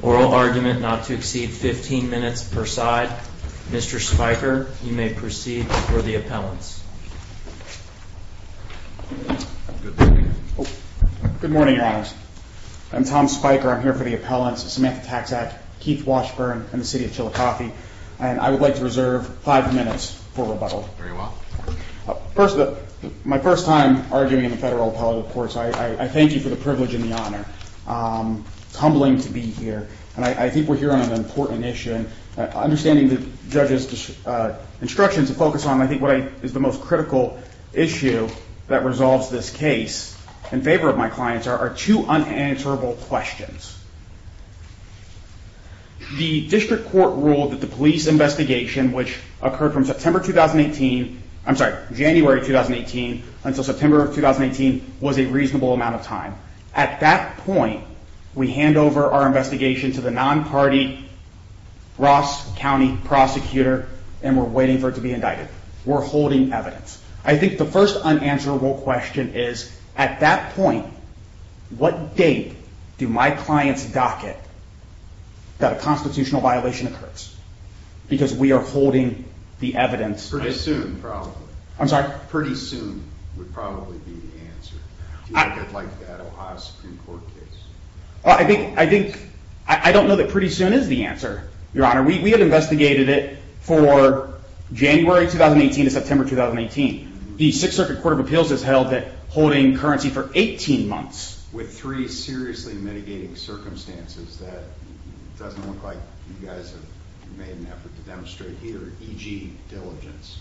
Oral argument not to exceed 15 minutes per side. Mr. Spiker, you may proceed for the appellants. Good morning, Your Honors. I'm Tom Spiker. I'm here for the appellants, Samantha Taczak, Keith Washburn, and the City of Chattanooga. And I would like to reserve five minutes for rebuttal. Very well. First, my first time arguing in the federal appellate courts, I thank you for the privilege and the honor. It's humbling to be here, and I think we're here on an important issue. Understanding the judge's instructions to focus on, I think, what is the most critical issue that resolves this case in favor of my clients are two unanswerable questions. The district court ruled that the police investigation, which occurred from January 2018 until September of 2018, was a reasonable amount of time. At that point, we hand over our investigation to the non-party Ross County prosecutor, and we're waiting for it to be indicted. We're holding evidence. I think the first unanswerable question is, at that point, what date do my clients docket that a constitutional violation occurs? Because we are holding the evidence. Pretty soon, probably. I'm sorry? Pretty soon would probably be the answer. Do you think it's like that Ohio Supreme Court case? I don't know that pretty soon is the answer, Your Honor. We have investigated it for January 2018 to September 2018. The Sixth Circuit Court of Appeals has held it holding currency for 18 months. With three seriously mitigating circumstances, that doesn't look like you guys have made an effort to demonstrate here, e.g. diligence.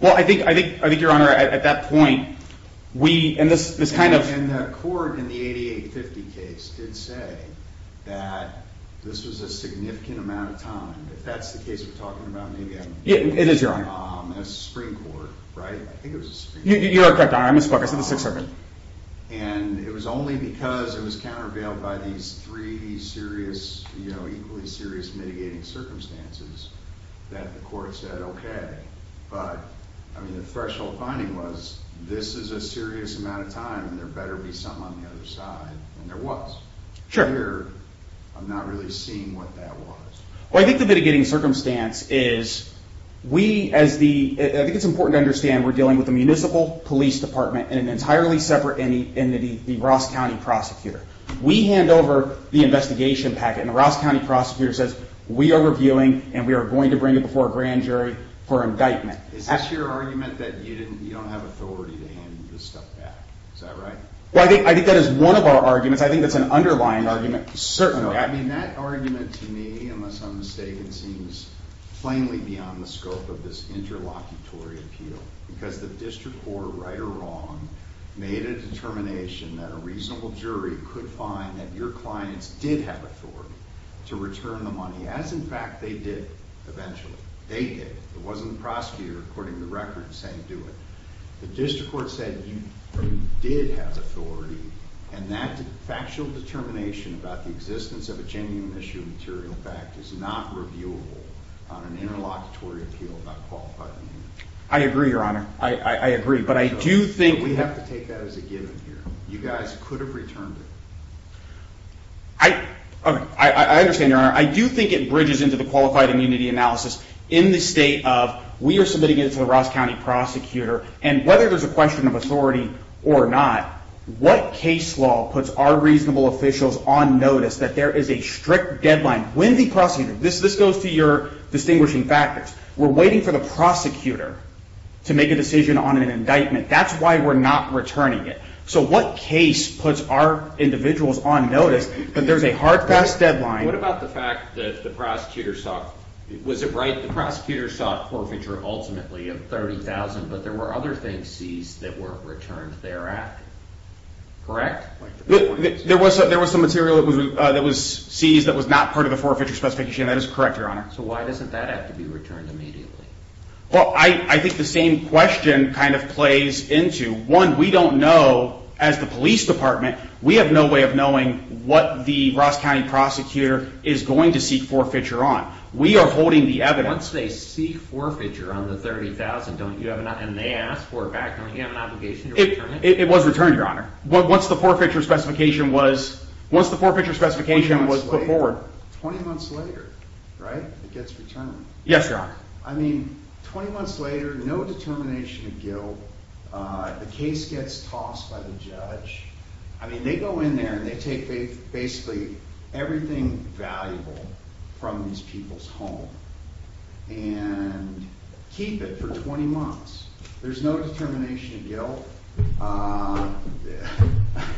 Well, I think, Your Honor, at that point, we... And the court in the 8850 case did say that this was a significant amount of time. If that's the case we're talking about, maybe I'm wrong. It is, Your Honor. That was the Supreme Court, right? I think it was the Supreme Court. You are correct, Your Honor. I misspoke. I said the Sixth Circuit. And it was only because it was countervailed by these three equally serious mitigating circumstances that the court said, OK. But the threshold finding was this is a serious amount of time and there better be something on the other side. And there was. Sure. Here, I'm not really seeing what that was. Well, I think the mitigating circumstance is we, as the... I think it's important to understand we're dealing with a municipal police department and an entirely separate entity, the Ross County Prosecutor. We hand over the investigation packet and the Ross County Prosecutor says we are reviewing and we are going to bring it before a grand jury for indictment. Is this your argument that you don't have authority to hand this stuff back? Is that right? Well, I think that is one of our arguments. I think that's an underlying argument, certainly. I mean, that argument to me, unless I'm mistaken, seems plainly beyond the scope of this interlocutory appeal. Because the district court, right or wrong, made a determination that a reasonable jury could find that your clients did have authority to return the money. As, in fact, they did eventually. They did. It wasn't the prosecutor according to the record saying do it. The district court said you did have authority and that factual determination about the existence of a genuine issue of material fact is not reviewable on an interlocutory appeal about qualified immunity. I agree, Your Honor. I agree. But I do think... We have to take that as a given here. You guys could have returned it. I understand, Your Honor. I do think it bridges into the qualified immunity analysis in the state of we are submitting it to the Ross County prosecutor. And whether there's a question of authority or not, what case law puts our reasonable officials on notice that there is a strict deadline? When the prosecutor... This goes to your distinguishing factors. We're waiting for the prosecutor to make a decision on an indictment. That's why we're not returning it. So what case puts our individuals on notice that there's a hard, fast deadline? What about the fact that the prosecutor sought... Was it right? The prosecutor sought forfeiture ultimately of $30,000, but there were other things seized that weren't returned thereafter. Correct? There was some material that was seized that was not part of the forfeiture specification. That is correct, Your Honor. So why doesn't that have to be returned immediately? Well, I think the same question kind of plays into... We don't know, as the police department, we have no way of knowing what the Ross County prosecutor is going to seek forfeiture on. We are holding the evidence... Once they seek forfeiture on the $30,000, and they ask for it back, don't you have an obligation to return it? It was returned, Your Honor. Once the forfeiture specification was put forward... 20 months later, right? It gets returned. Yes, Your Honor. I mean, 20 months later, no determination of guilt. The case gets tossed by the judge. I mean, they go in there and they take basically everything valuable from these people's home and keep it for 20 months. There's no determination of guilt. I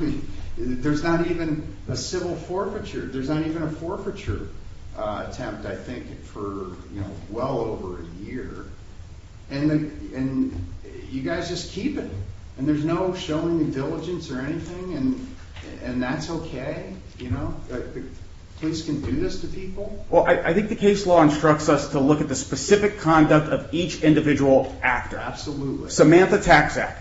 mean, there's not even a civil forfeiture. There's not even a forfeiture attempt, I think, for well over a year. And you guys just keep it. And there's no showing of diligence or anything, and that's okay? You know, the police can do this to people? Well, I think the case law instructs us to look at the specific conduct of each individual actor. Absolutely. Samantha Taksak.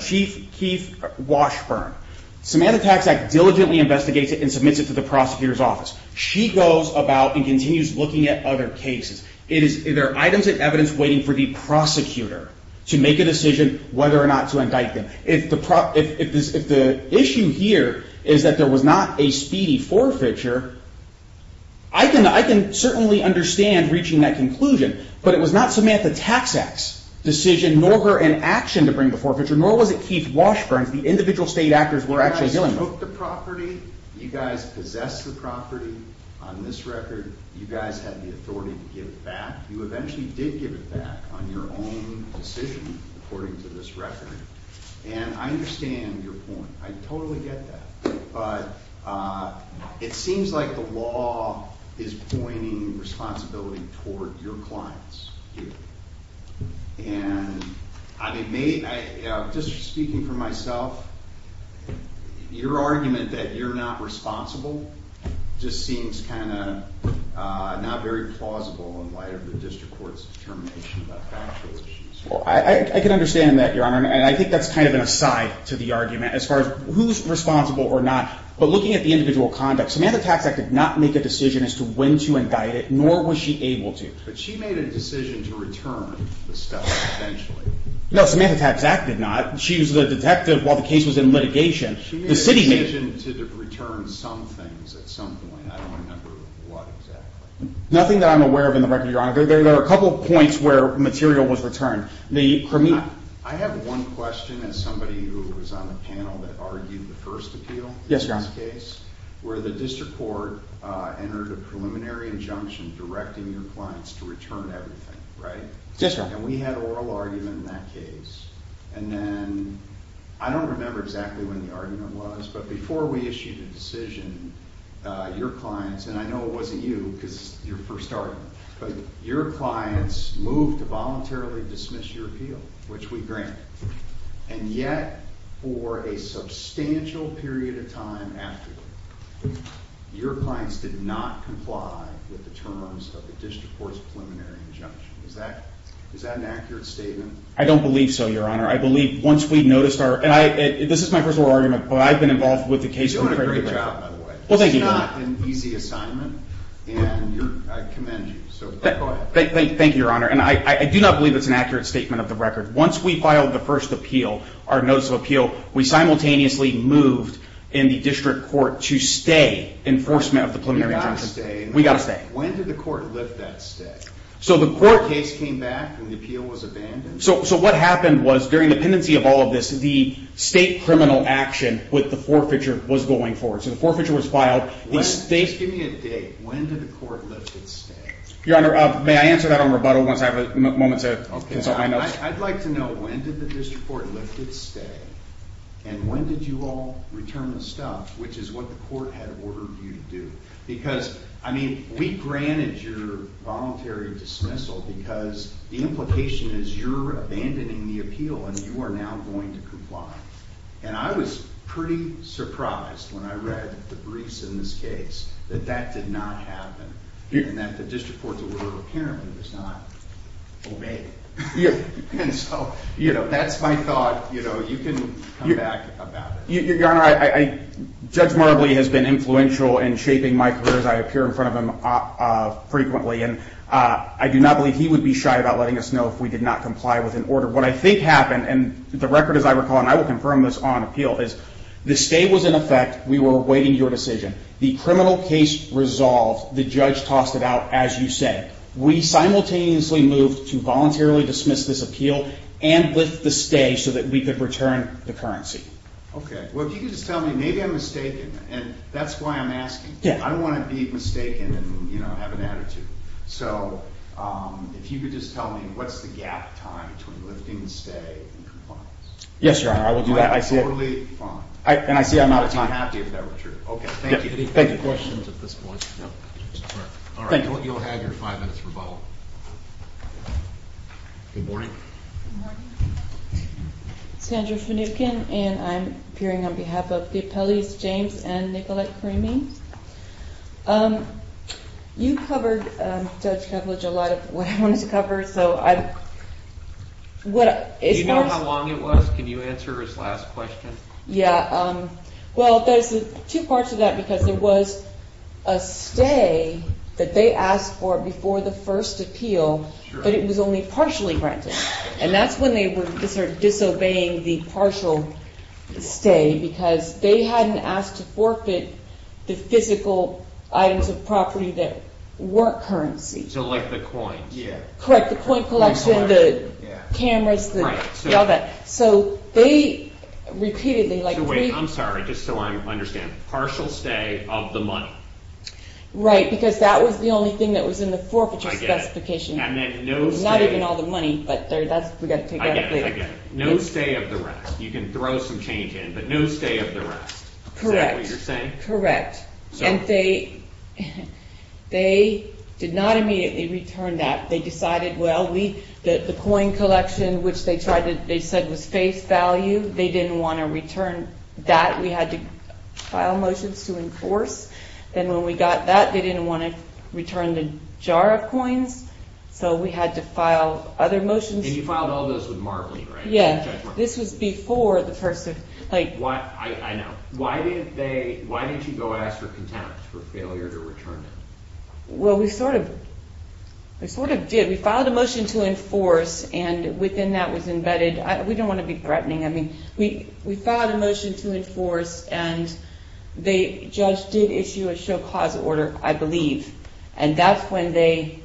Chief Keith Washburn. Samantha Taksak diligently investigates it and submits it to the prosecutor's office. She goes about and continues looking at other cases. There are items of evidence waiting for the prosecutor to make a decision whether or not to indict them. If the issue here is that there was not a speedy forfeiture, I can certainly understand reaching that conclusion, but it was not Samantha Taksak's decision, nor her inaction to bring the forfeiture, nor was it Keith Washburn's. The individual state actors were actually dealing with it. You guys took the property. You guys possessed the property. On this record, you guys had the authority to give it back. You eventually did give it back on your own decision, according to this record. And I understand your point. I totally get that. But it seems like the law is pointing responsibility toward your clients here. And just speaking for myself, your argument that you're not responsible just seems kind of not very plausible in light of the district court's determination about factual issues. I can understand that, Your Honor, and I think that's kind of an aside to the argument. As far as who's responsible or not, but looking at the individual conduct, Samantha Taksak did not make a decision as to when to indict it, nor was she able to. But she made a decision to return the stuff eventually. No, Samantha Taksak did not. She was the detective while the case was in litigation. She made a decision to return some things at some point. I don't remember what exactly. Nothing that I'm aware of in the record, Your Honor. There are a couple of points where material was returned. I have one question as somebody who was on the panel that argued the first appeal in this case. Yes, Your Honor. Where the district court entered a preliminary injunction directing your clients to return everything, right? Yes, Your Honor. And we had an oral argument in that case. And then I don't remember exactly when the argument was, but before we issued a decision, your clients, and I know it wasn't you because it's your first argument, but your clients moved to voluntarily dismiss your appeal, which we granted. And yet, for a substantial period of time afterward, your clients did not comply with the terms of the district court's preliminary injunction. Is that an accurate statement? I don't believe so, Your Honor. I believe once we noticed our – and this is my first oral argument, but I've been involved with the case. You're doing a great job, by the way. Well, thank you. It's not an easy assignment, and I commend you, so go ahead. Thank you, Your Honor. And I do not believe it's an accurate statement of the record. Once we filed the first appeal, our notice of appeal, we simultaneously moved in the district court to stay enforcement of the preliminary injunction. You got to stay. We got to stay. When did the court lift that stay? So the court – The case came back and the appeal was abandoned? So what happened was during the pendency of all of this, the state criminal action with the forfeiture was going forward. So the forfeiture was filed. The state – Just give me a date. When did the court lift its stay? Your Honor, may I answer that on rebuttal once I have a moment to consult my notes? Okay. I'd like to know when did the district court lift its stay, and when did you all return the stuff, which is what the court had ordered you to do? Because, I mean, we granted your voluntary dismissal because the implication is you're abandoning the appeal and you are now going to comply. And I was pretty surprised when I read the briefs in this case that that did not happen, and that the district court's order apparently was not obeyed. And so, you know, that's my thought. You know, you can come back about it. Your Honor, Judge Marbley has been influential in shaping my career as I appear in front of him frequently, and I do not believe he would be shy about letting us know if we did not comply with an order. What I think happened, and the record as I recall, and I will confirm this on appeal, is the stay was in effect. We were awaiting your decision. The criminal case resolved. The judge tossed it out, as you said. We simultaneously moved to voluntarily dismiss this appeal and lift the stay so that we could return the currency. Okay. Well, if you could just tell me, maybe I'm mistaken, and that's why I'm asking. Yeah. I don't want to be mistaken and, you know, have an attitude. So if you could just tell me, what's the gap time between lifting the stay and compliance? Yes, Your Honor. I will do that. Totally fine. And I see I'm out of time. I'm not happy if that were true. Okay. Thank you. Thank you. Any questions at this point? No. All right. Thank you. All right. You'll have your five minutes rebuttal. Good morning. Good morning. Sandra Finucane, and I'm appearing on behalf of the appellees, James and Nicolette Kramer. Good morning. Good morning. You covered, Judge Kovlich, a lot of what I wanted to cover. Do you know how long it was? Can you answer his last question? Yeah. Well, there's two parts to that because there was a stay that they asked for before the first appeal, but it was only partially granted. And that's when they were disobeying the partial stay because they hadn't asked to forfeit the physical items of property that weren't currency. So, like the coins? Yeah. Correct. The coin collection, the cameras, all that. So, they repeatedly, like... Wait. I'm sorry. Just so I understand. Partial stay of the money. Right. Because that was the only thing that was in the forfeiture specification. I get it. Not even all the money, but that's... I get it. No stay of the rest. You can throw some change in, but no stay of the rest. Correct. Is that what you're saying? Correct. And they did not immediately return that. They decided, well, the coin collection, which they said was face value, they didn't want to return that. We had to file motions to enforce. Then when we got that, they didn't want to return the jar of coins. So, we had to file other motions. And you filed all those with Marvlee, right? Yeah. Judge Marvlee. This was before the person... I know. Why didn't you go ask for contempt for failure to return it? Well, we sort of did. We filed a motion to enforce, and within that was embedded... We don't want to be threatening. We filed a motion to enforce, and the judge did issue a show cause order, I believe. And that's when they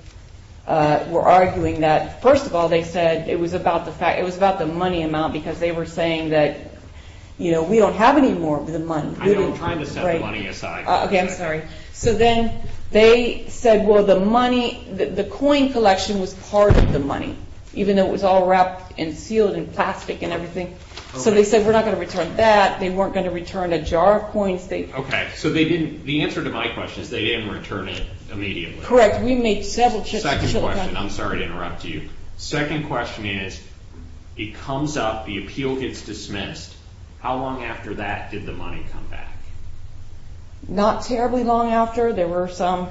were arguing that, first of all, they said it was about the money amount, because they were saying that we don't have any more of the money. I don't want to set the money aside. Okay, I'm sorry. So, then they said, well, the coin collection was part of the money, even though it was all wrapped and sealed in plastic and everything. So, they said, we're not going to return that. They weren't going to return a jar of coins. Okay. So, they didn't... The answer to my question is they didn't return it immediately. Correct. We made several... Second question. I'm sorry to interrupt you. Second question is, it comes up, the appeal gets dismissed. How long after that did the money come back? Not terribly long after. There were some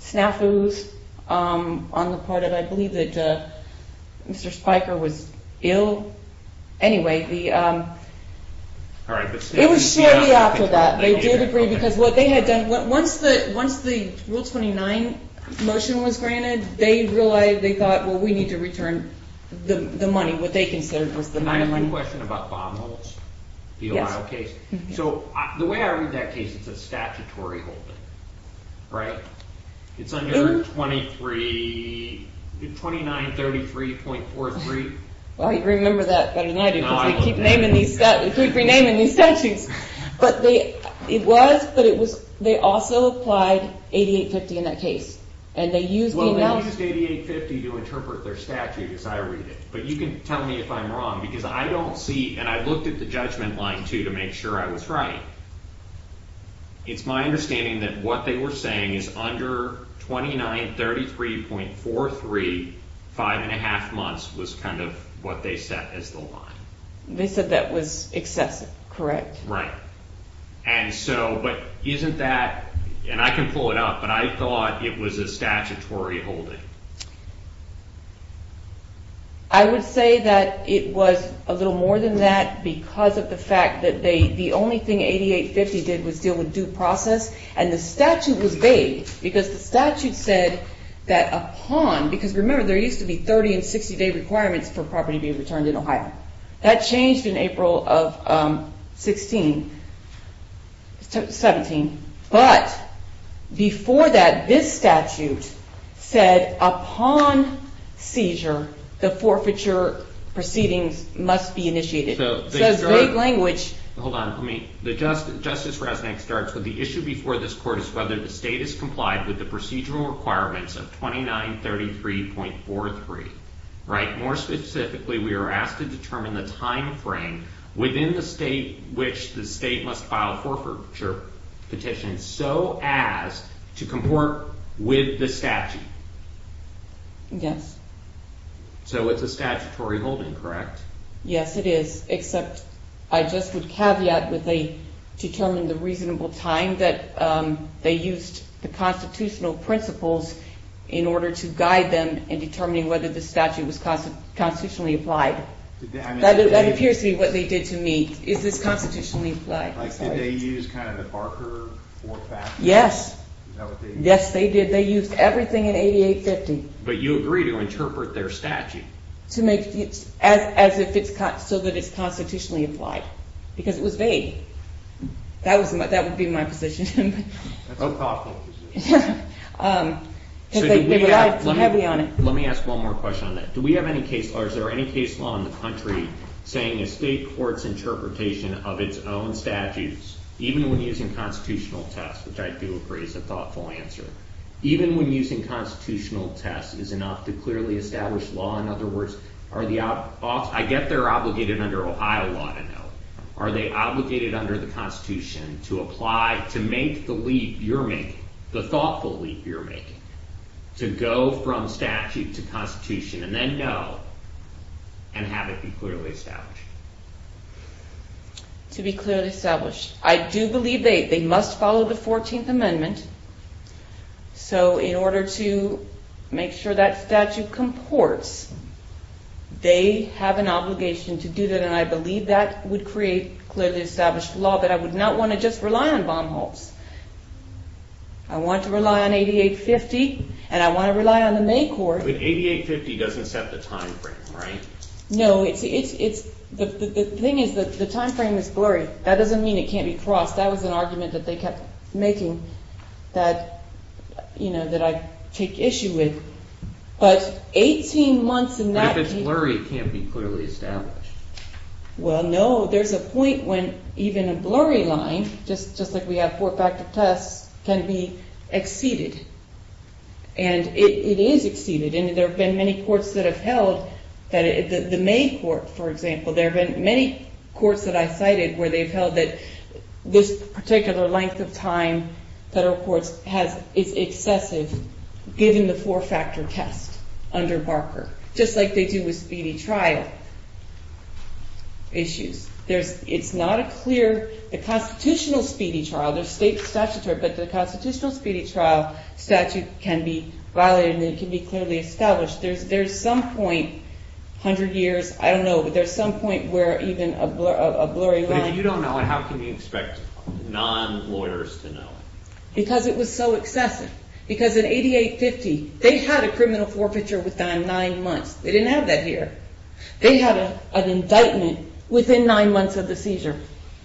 snafus on the part of, I believe, that Mr. Spiker was ill. Anyway, it was shortly after that. They did agree, because what they had done, once the Rule 29 motion was granted, they realized, they thought, well, we need to return the money. What they considered was the money. And I have a question about Baumholz, the Ohio case. So, the way I read that case, it's a statutory holding, right? It's under 2933.43. Well, you'd remember that better than I do, because we keep renaming these statutes. But it was, but they also applied 8850 in that case. And they used... Well, they used 8850 to interpret their statute as I read it. But you can tell me if I'm wrong, because I don't see, and I looked at the judgment line, too, to make sure I was right. It's my understanding that what they were saying is under 2933.43, five and a half months was kind of what they set as the line. They said that was excessive, correct? Right. And so, but isn't that, and I can pull it up, but I thought it was a statutory holding. I would say that it was a little more than that, because of the fact that the only thing 8850 did was deal with due process. And the statute was vague, because the statute said that upon, because remember, there used to be 30 and 60-day requirements for property to be returned in Ohio. That changed in April of 16, 17. But before that, this statute said upon seizure, the forfeiture proceedings must be initiated. So it's vague language. Hold on. I mean, Justice Resnick starts with, the issue before this court is whether the state has complied with the procedural requirements of 2933.43, right? More specifically, we are asked to determine the timeframe within the state which the state must file forfeiture petition, so as to comport with the statute. Yes. So it's a statutory holding, correct? Yes, it is, except I just would caveat that they determined the reasonable time that they used the constitutional principles in order to guide them in determining whether the statute was constitutionally applied. That appears to be what they did to me. Is this constitutionally applied? Did they use kind of the Barker four factors? Yes. Is that what they did? Yes, they did. They used everything in 8850. But you agree to interpret their statute? As if it's so that it's constitutionally applied, because it was vague. That would be my position. That's a thoughtful position. They relied heavy on it. Let me ask one more question on that. Do we have any case laws or is there any case law in the country saying a state court's interpretation of its own statutes, even when using constitutional tests, which I do agree is a thoughtful answer, even when using constitutional tests is enough to clearly establish law? In other words, I get they're obligated under Ohio law to know. Are they obligated under the Constitution to apply, to make the leap you're making, the thoughtful leap you're making, to go from statute to constitution and then know and have it be clearly established? To be clearly established. I do believe they must follow the 14th Amendment. So in order to make sure that statute comports, they have an obligation to do that, and I believe that would create clearly established law, but I would not want to just rely on bomb holes. I want to rely on 8850 and I want to rely on the main court. But 8850 doesn't set the time frame, right? No. The thing is the time frame is blurry. That doesn't mean it can't be crossed. That was an argument that they kept making that I take issue with. But 18 months in that case... But if it's blurry, it can't be clearly established. Well, no. There's a point when even a blurry line, just like we have four-factor tests, can be exceeded. And it is exceeded, and there have been many courts that have held... The main court, for example, there have been many courts that I cited where they've held that this particular length of time, federal courts, is excessive given the four-factor test under Barker, just like they do with speedy trial issues. It's not a clear... The constitutional speedy trial, there's state statutory, but the constitutional speedy trial statute can be violated and it can be clearly established. There's some point, 100 years, I don't know, but there's some point where even a blurry line... But if you don't know it, how can you expect non-lawyers to know it? Because it was so excessive. Because in 8850, they had a criminal forfeiture within 9 months. They didn't have that here. They had an indictment within 9 months of the seizure.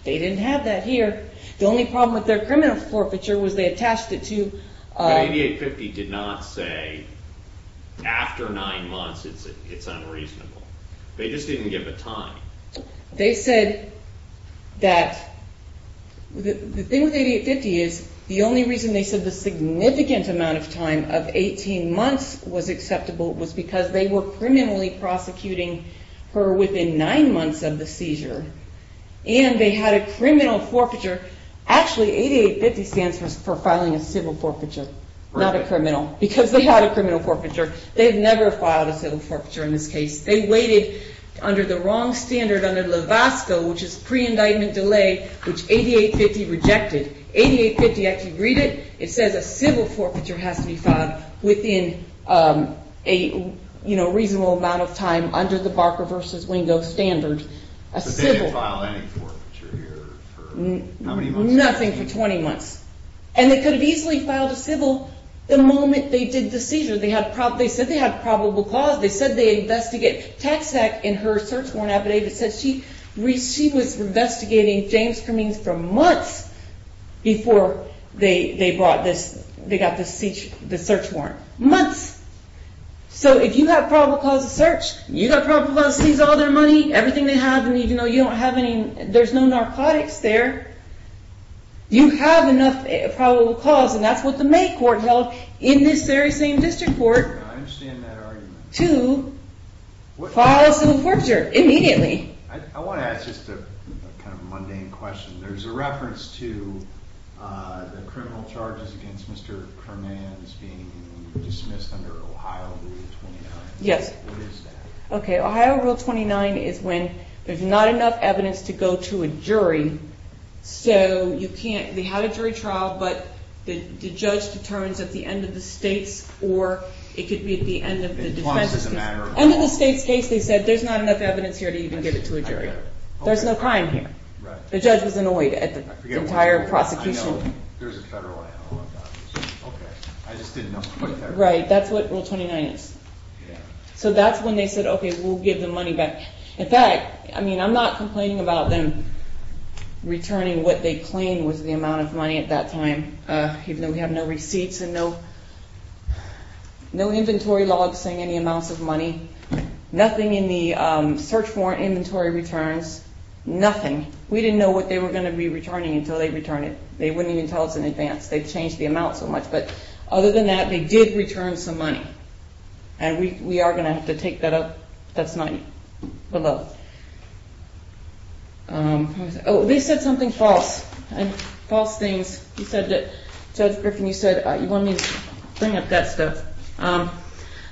They didn't have that here. The only problem with their criminal forfeiture was they attached it to... But 8850 did not say, after 9 months, it's unreasonable. They just didn't give a time. They said that... The thing with 8850 is the only reason they said that the significant amount of time of 18 months was acceptable was because they were criminally prosecuting her within 9 months of the seizure. And they had a criminal forfeiture. Actually, 8850 stands for filing a civil forfeiture, not a criminal, because they had a criminal forfeiture. They've never filed a civil forfeiture in this case. They waited under the wrong standard under LAVASCO, which is pre-indictment delay, which 8850 rejected. 8850 actually agreed it. It says a civil forfeiture has to be filed within a reasonable amount of time under the Barker v. Wingo standard. But they didn't file any forfeiture here for how many months? Nothing for 20 months. And they could have easily filed a civil the moment they did the seizure. They said they had probable cause. They said they investigate. Tax Act, in her search warrant affidavit, says she was investigating James Cummings for months before they got the search warrant. Months. So if you have probable cause of search, you've got probable cause to seize all their money, everything they have, and you don't have any, there's no narcotics there, you have enough probable cause, and that's what the May court held in this very same district court. I understand that argument. To file a civil forfeiture immediately. I want to ask just a kind of mundane question. There's a reference to the criminal charges against Mr. Kermans being dismissed under Ohio Rule 29. Yes. What is that? Okay, Ohio Rule 29 is when there's not enough evidence to go to a jury, so you can't have a jury trial, but the judge determines at the end of the states or it could be at the end of the defense case. End of the states case, they said, there's not enough evidence here to even get it to a jury. There's no crime here. The judge was annoyed at the entire prosecution. I know. There's a federal item on that. Okay. I just didn't know. Right, that's what Rule 29 is. So that's when they said, okay, we'll give the money back. In fact, I mean, I'm not complaining about them returning what they claimed was the amount of money at that time, even though we have no receipts and no inventory logs saying any amounts of money, nothing in the search warrant inventory returns, nothing. We didn't know what they were going to be returning until they returned it. They wouldn't even tell us in advance. They changed the amount so much. But other than that, they did return some money, and we are going to have to take that up. That's not below. Oh, they said something false, false things. Judge Griffin, you said you wanted me to bring up that stuff.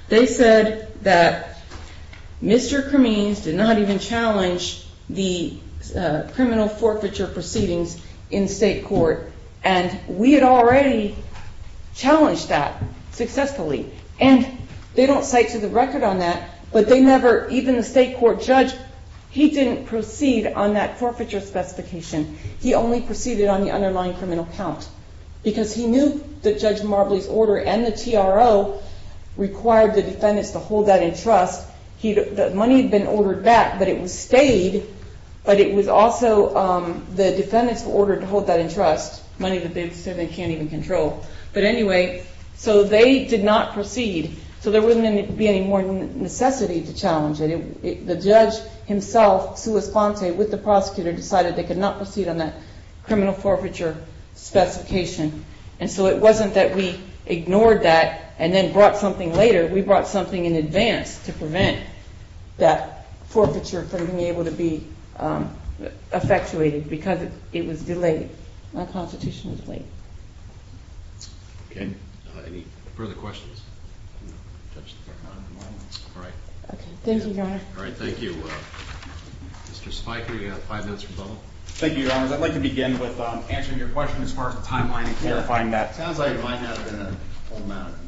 They said that Mr. Cremins did not even challenge the criminal forfeiture proceedings in state court, and we had already challenged that successfully. And they don't cite to the record on that, but they never, even the state court judge, he didn't proceed on that forfeiture specification. He only proceeded on the underlying criminal count, because he knew that Judge Marbley's order and the TRO required the defendants to hold that in trust. The money had been ordered back, but it stayed, but it was also the defendants who ordered to hold that in trust, money that they said they can't even control. But anyway, so they did not proceed. So there wouldn't be any more necessity to challenge it. The judge himself, Sua Sponte, with the prosecutor, decided they could not proceed on that criminal forfeiture specification. And so it wasn't that we ignored that and then brought something later. We brought something in advance to prevent that forfeiture from being able to be effectuated, because it was delayed, unconstitutionally. Okay, any further questions? All right. Okay, thank you, Your Honor. All right, thank you. Mr. Spiker, you have five minutes for bubble. Thank you, Your Honors. I'd like to begin with answering your question as far as the timeline and clarifying that. It sounds like it might have been a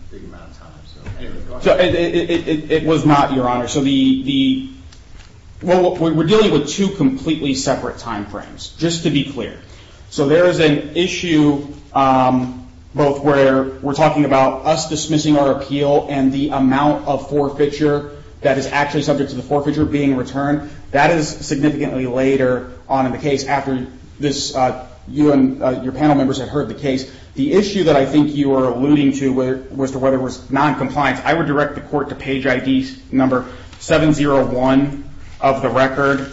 big amount of time. It was not, Your Honor. So we're dealing with two completely separate time frames, just to be clear. So there is an issue both where we're talking about us dismissing our appeal and the amount of forfeiture that is actually subject to the forfeiture being returned. That is significantly later on in the case after you and your panel members have heard the case. The issue that I think you are alluding to was to whether it was noncompliance. I would direct the court to page ID number 701 of the record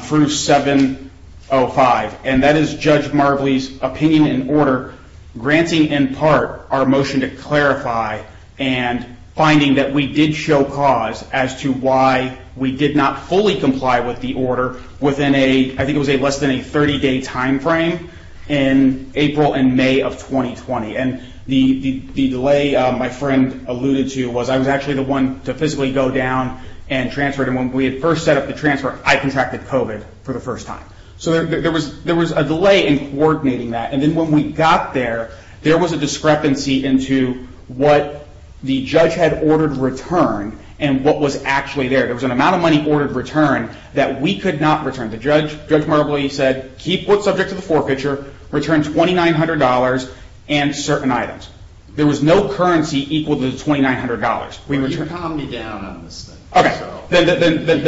through 705. And that is Judge Marbley's opinion in order, granting in part our motion to clarify and finding that we did show cause as to why we did not fully comply with the order within a, I think it was less than a 30-day time frame in April and May of 2020. And the delay my friend alluded to was I was actually the one to physically go down and transfer. And when we had first set up the transfer, I contracted COVID for the first time. So there was a delay in coordinating that. And then when we got there, there was a discrepancy into what the judge had ordered returned and what was actually there. There was an amount of money ordered returned that we could not return. Judge Marbley said, keep what's subject to the forfeiture, return $2,900 and certain items. There was no currency equal to the $2,900. You can calm me down on this thing. You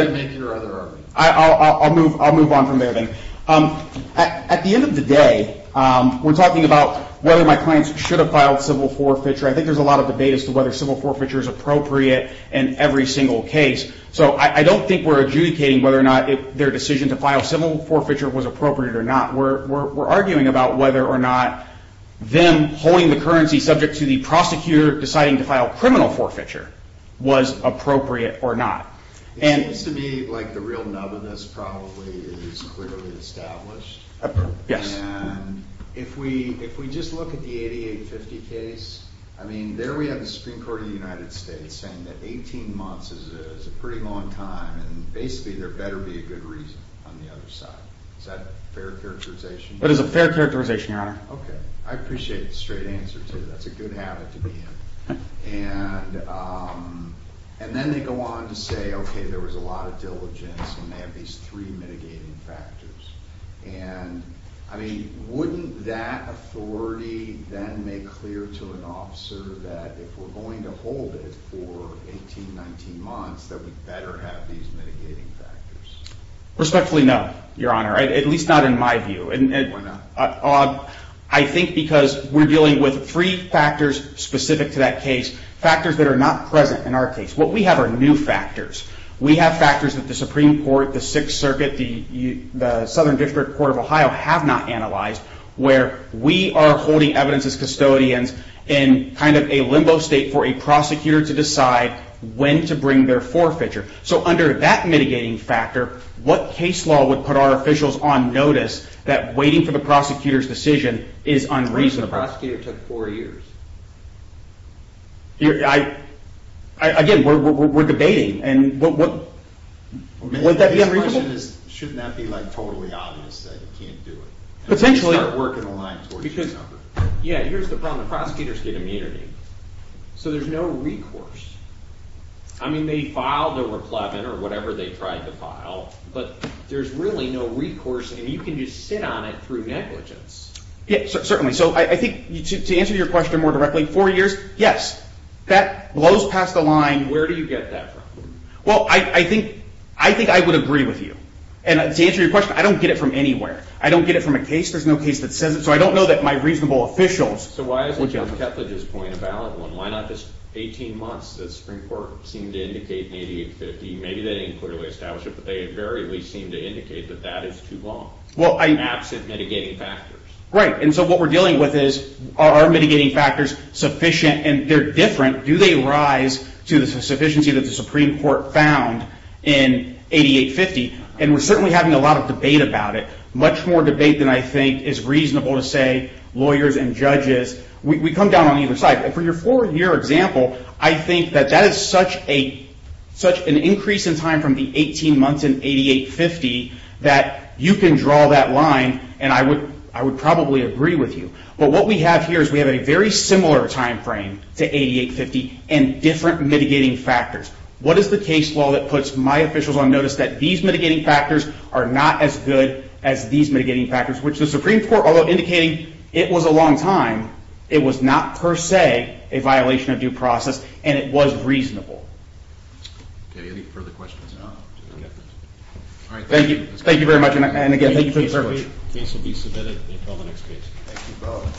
can make your other argument. I'll move on from there then. At the end of the day, we're talking about whether my clients should have filed civil forfeiture. I think there's a lot of debate as to whether civil forfeiture is appropriate in every single case. So I don't think we're adjudicating whether or not their decision to file civil forfeiture was appropriate or not. We're arguing about whether or not them holding the currency subject to the prosecutor deciding to file criminal forfeiture was appropriate or not. It seems to me like the real nub of this probably is clearly established. And if we just look at the 8850 case, I mean, there we have the Supreme Court of the United States saying that 18 months is a pretty long time. And basically, there better be a good reason on the other side. Is that a fair characterization? It is a fair characterization, Your Honor. Okay. I appreciate the straight answer to that. That's a good habit to be in. And then they go on to say, okay, there was a lot of diligence, and they have these three mitigating factors. And, I mean, wouldn't that authority then make clear to an officer that if we're going to hold it for 18, 19 months, that we better have these mitigating factors? Respectfully, no, Your Honor, at least not in my view. Why not? I think because we're dealing with three factors specific to that case, factors that are not present in our case. What we have are new factors. We have factors that the Supreme Court, the Sixth Circuit, the Southern District Court of Ohio have not analyzed, where we are holding evidence as custodians in kind of a limbo state for a prosecutor to decide when to bring their forfeiture. So under that mitigating factor, what case law would put our officials on notice that waiting for the prosecutor's decision is unreasonable? What if the prosecutor took four years? Again, we're debating. And would that be unreasonable? Shouldn't that be like totally obvious that you can't do it? Potentially. You start working the line towards your number. Yeah, here's the problem. The prosecutors get immunity. So there's no recourse. I mean, they filed a reclaimant or whatever they tried to file, but there's really no recourse, and you can just sit on it through negligence. Yeah, certainly. So I think to answer your question more directly, four years, yes, that blows past the line. Where do you get that from? Well, I think I would agree with you. And to answer your question, I don't get it from anywhere. I don't get it from a case. There's no case that says it. So I don't know that my reasonable officials would get it. So why isn't John Ketledge's point a valid one? Why not just 18 months that the Supreme Court seemed to indicate in 8850? Maybe they didn't clearly establish it, but they invariably seemed to indicate that that is too long. Absent mitigating factors. Right, and so what we're dealing with is, are our mitigating factors sufficient? And they're different. Do they rise to the sufficiency that the Supreme Court found in 8850? And we're certainly having a lot of debate about it. Much more debate than I think is reasonable to say lawyers and judges. We come down on either side. But for your four-year example, I think that that is such an increase in time from the 18 months in 8850 that you can draw that line, and I would probably agree with you. But what we have here is we have a very similar timeframe to 8850 and different mitigating factors. What is the case law that puts my officials on notice that these mitigating factors are not as good as these mitigating factors, which the Supreme Court, although indicating it was a long time, it was not per se a violation of due process, and it was reasonable. Any further questions? Thank you. Thank you very much, and again, thank you for your service. The case will be submitted until the next case. Thank you both.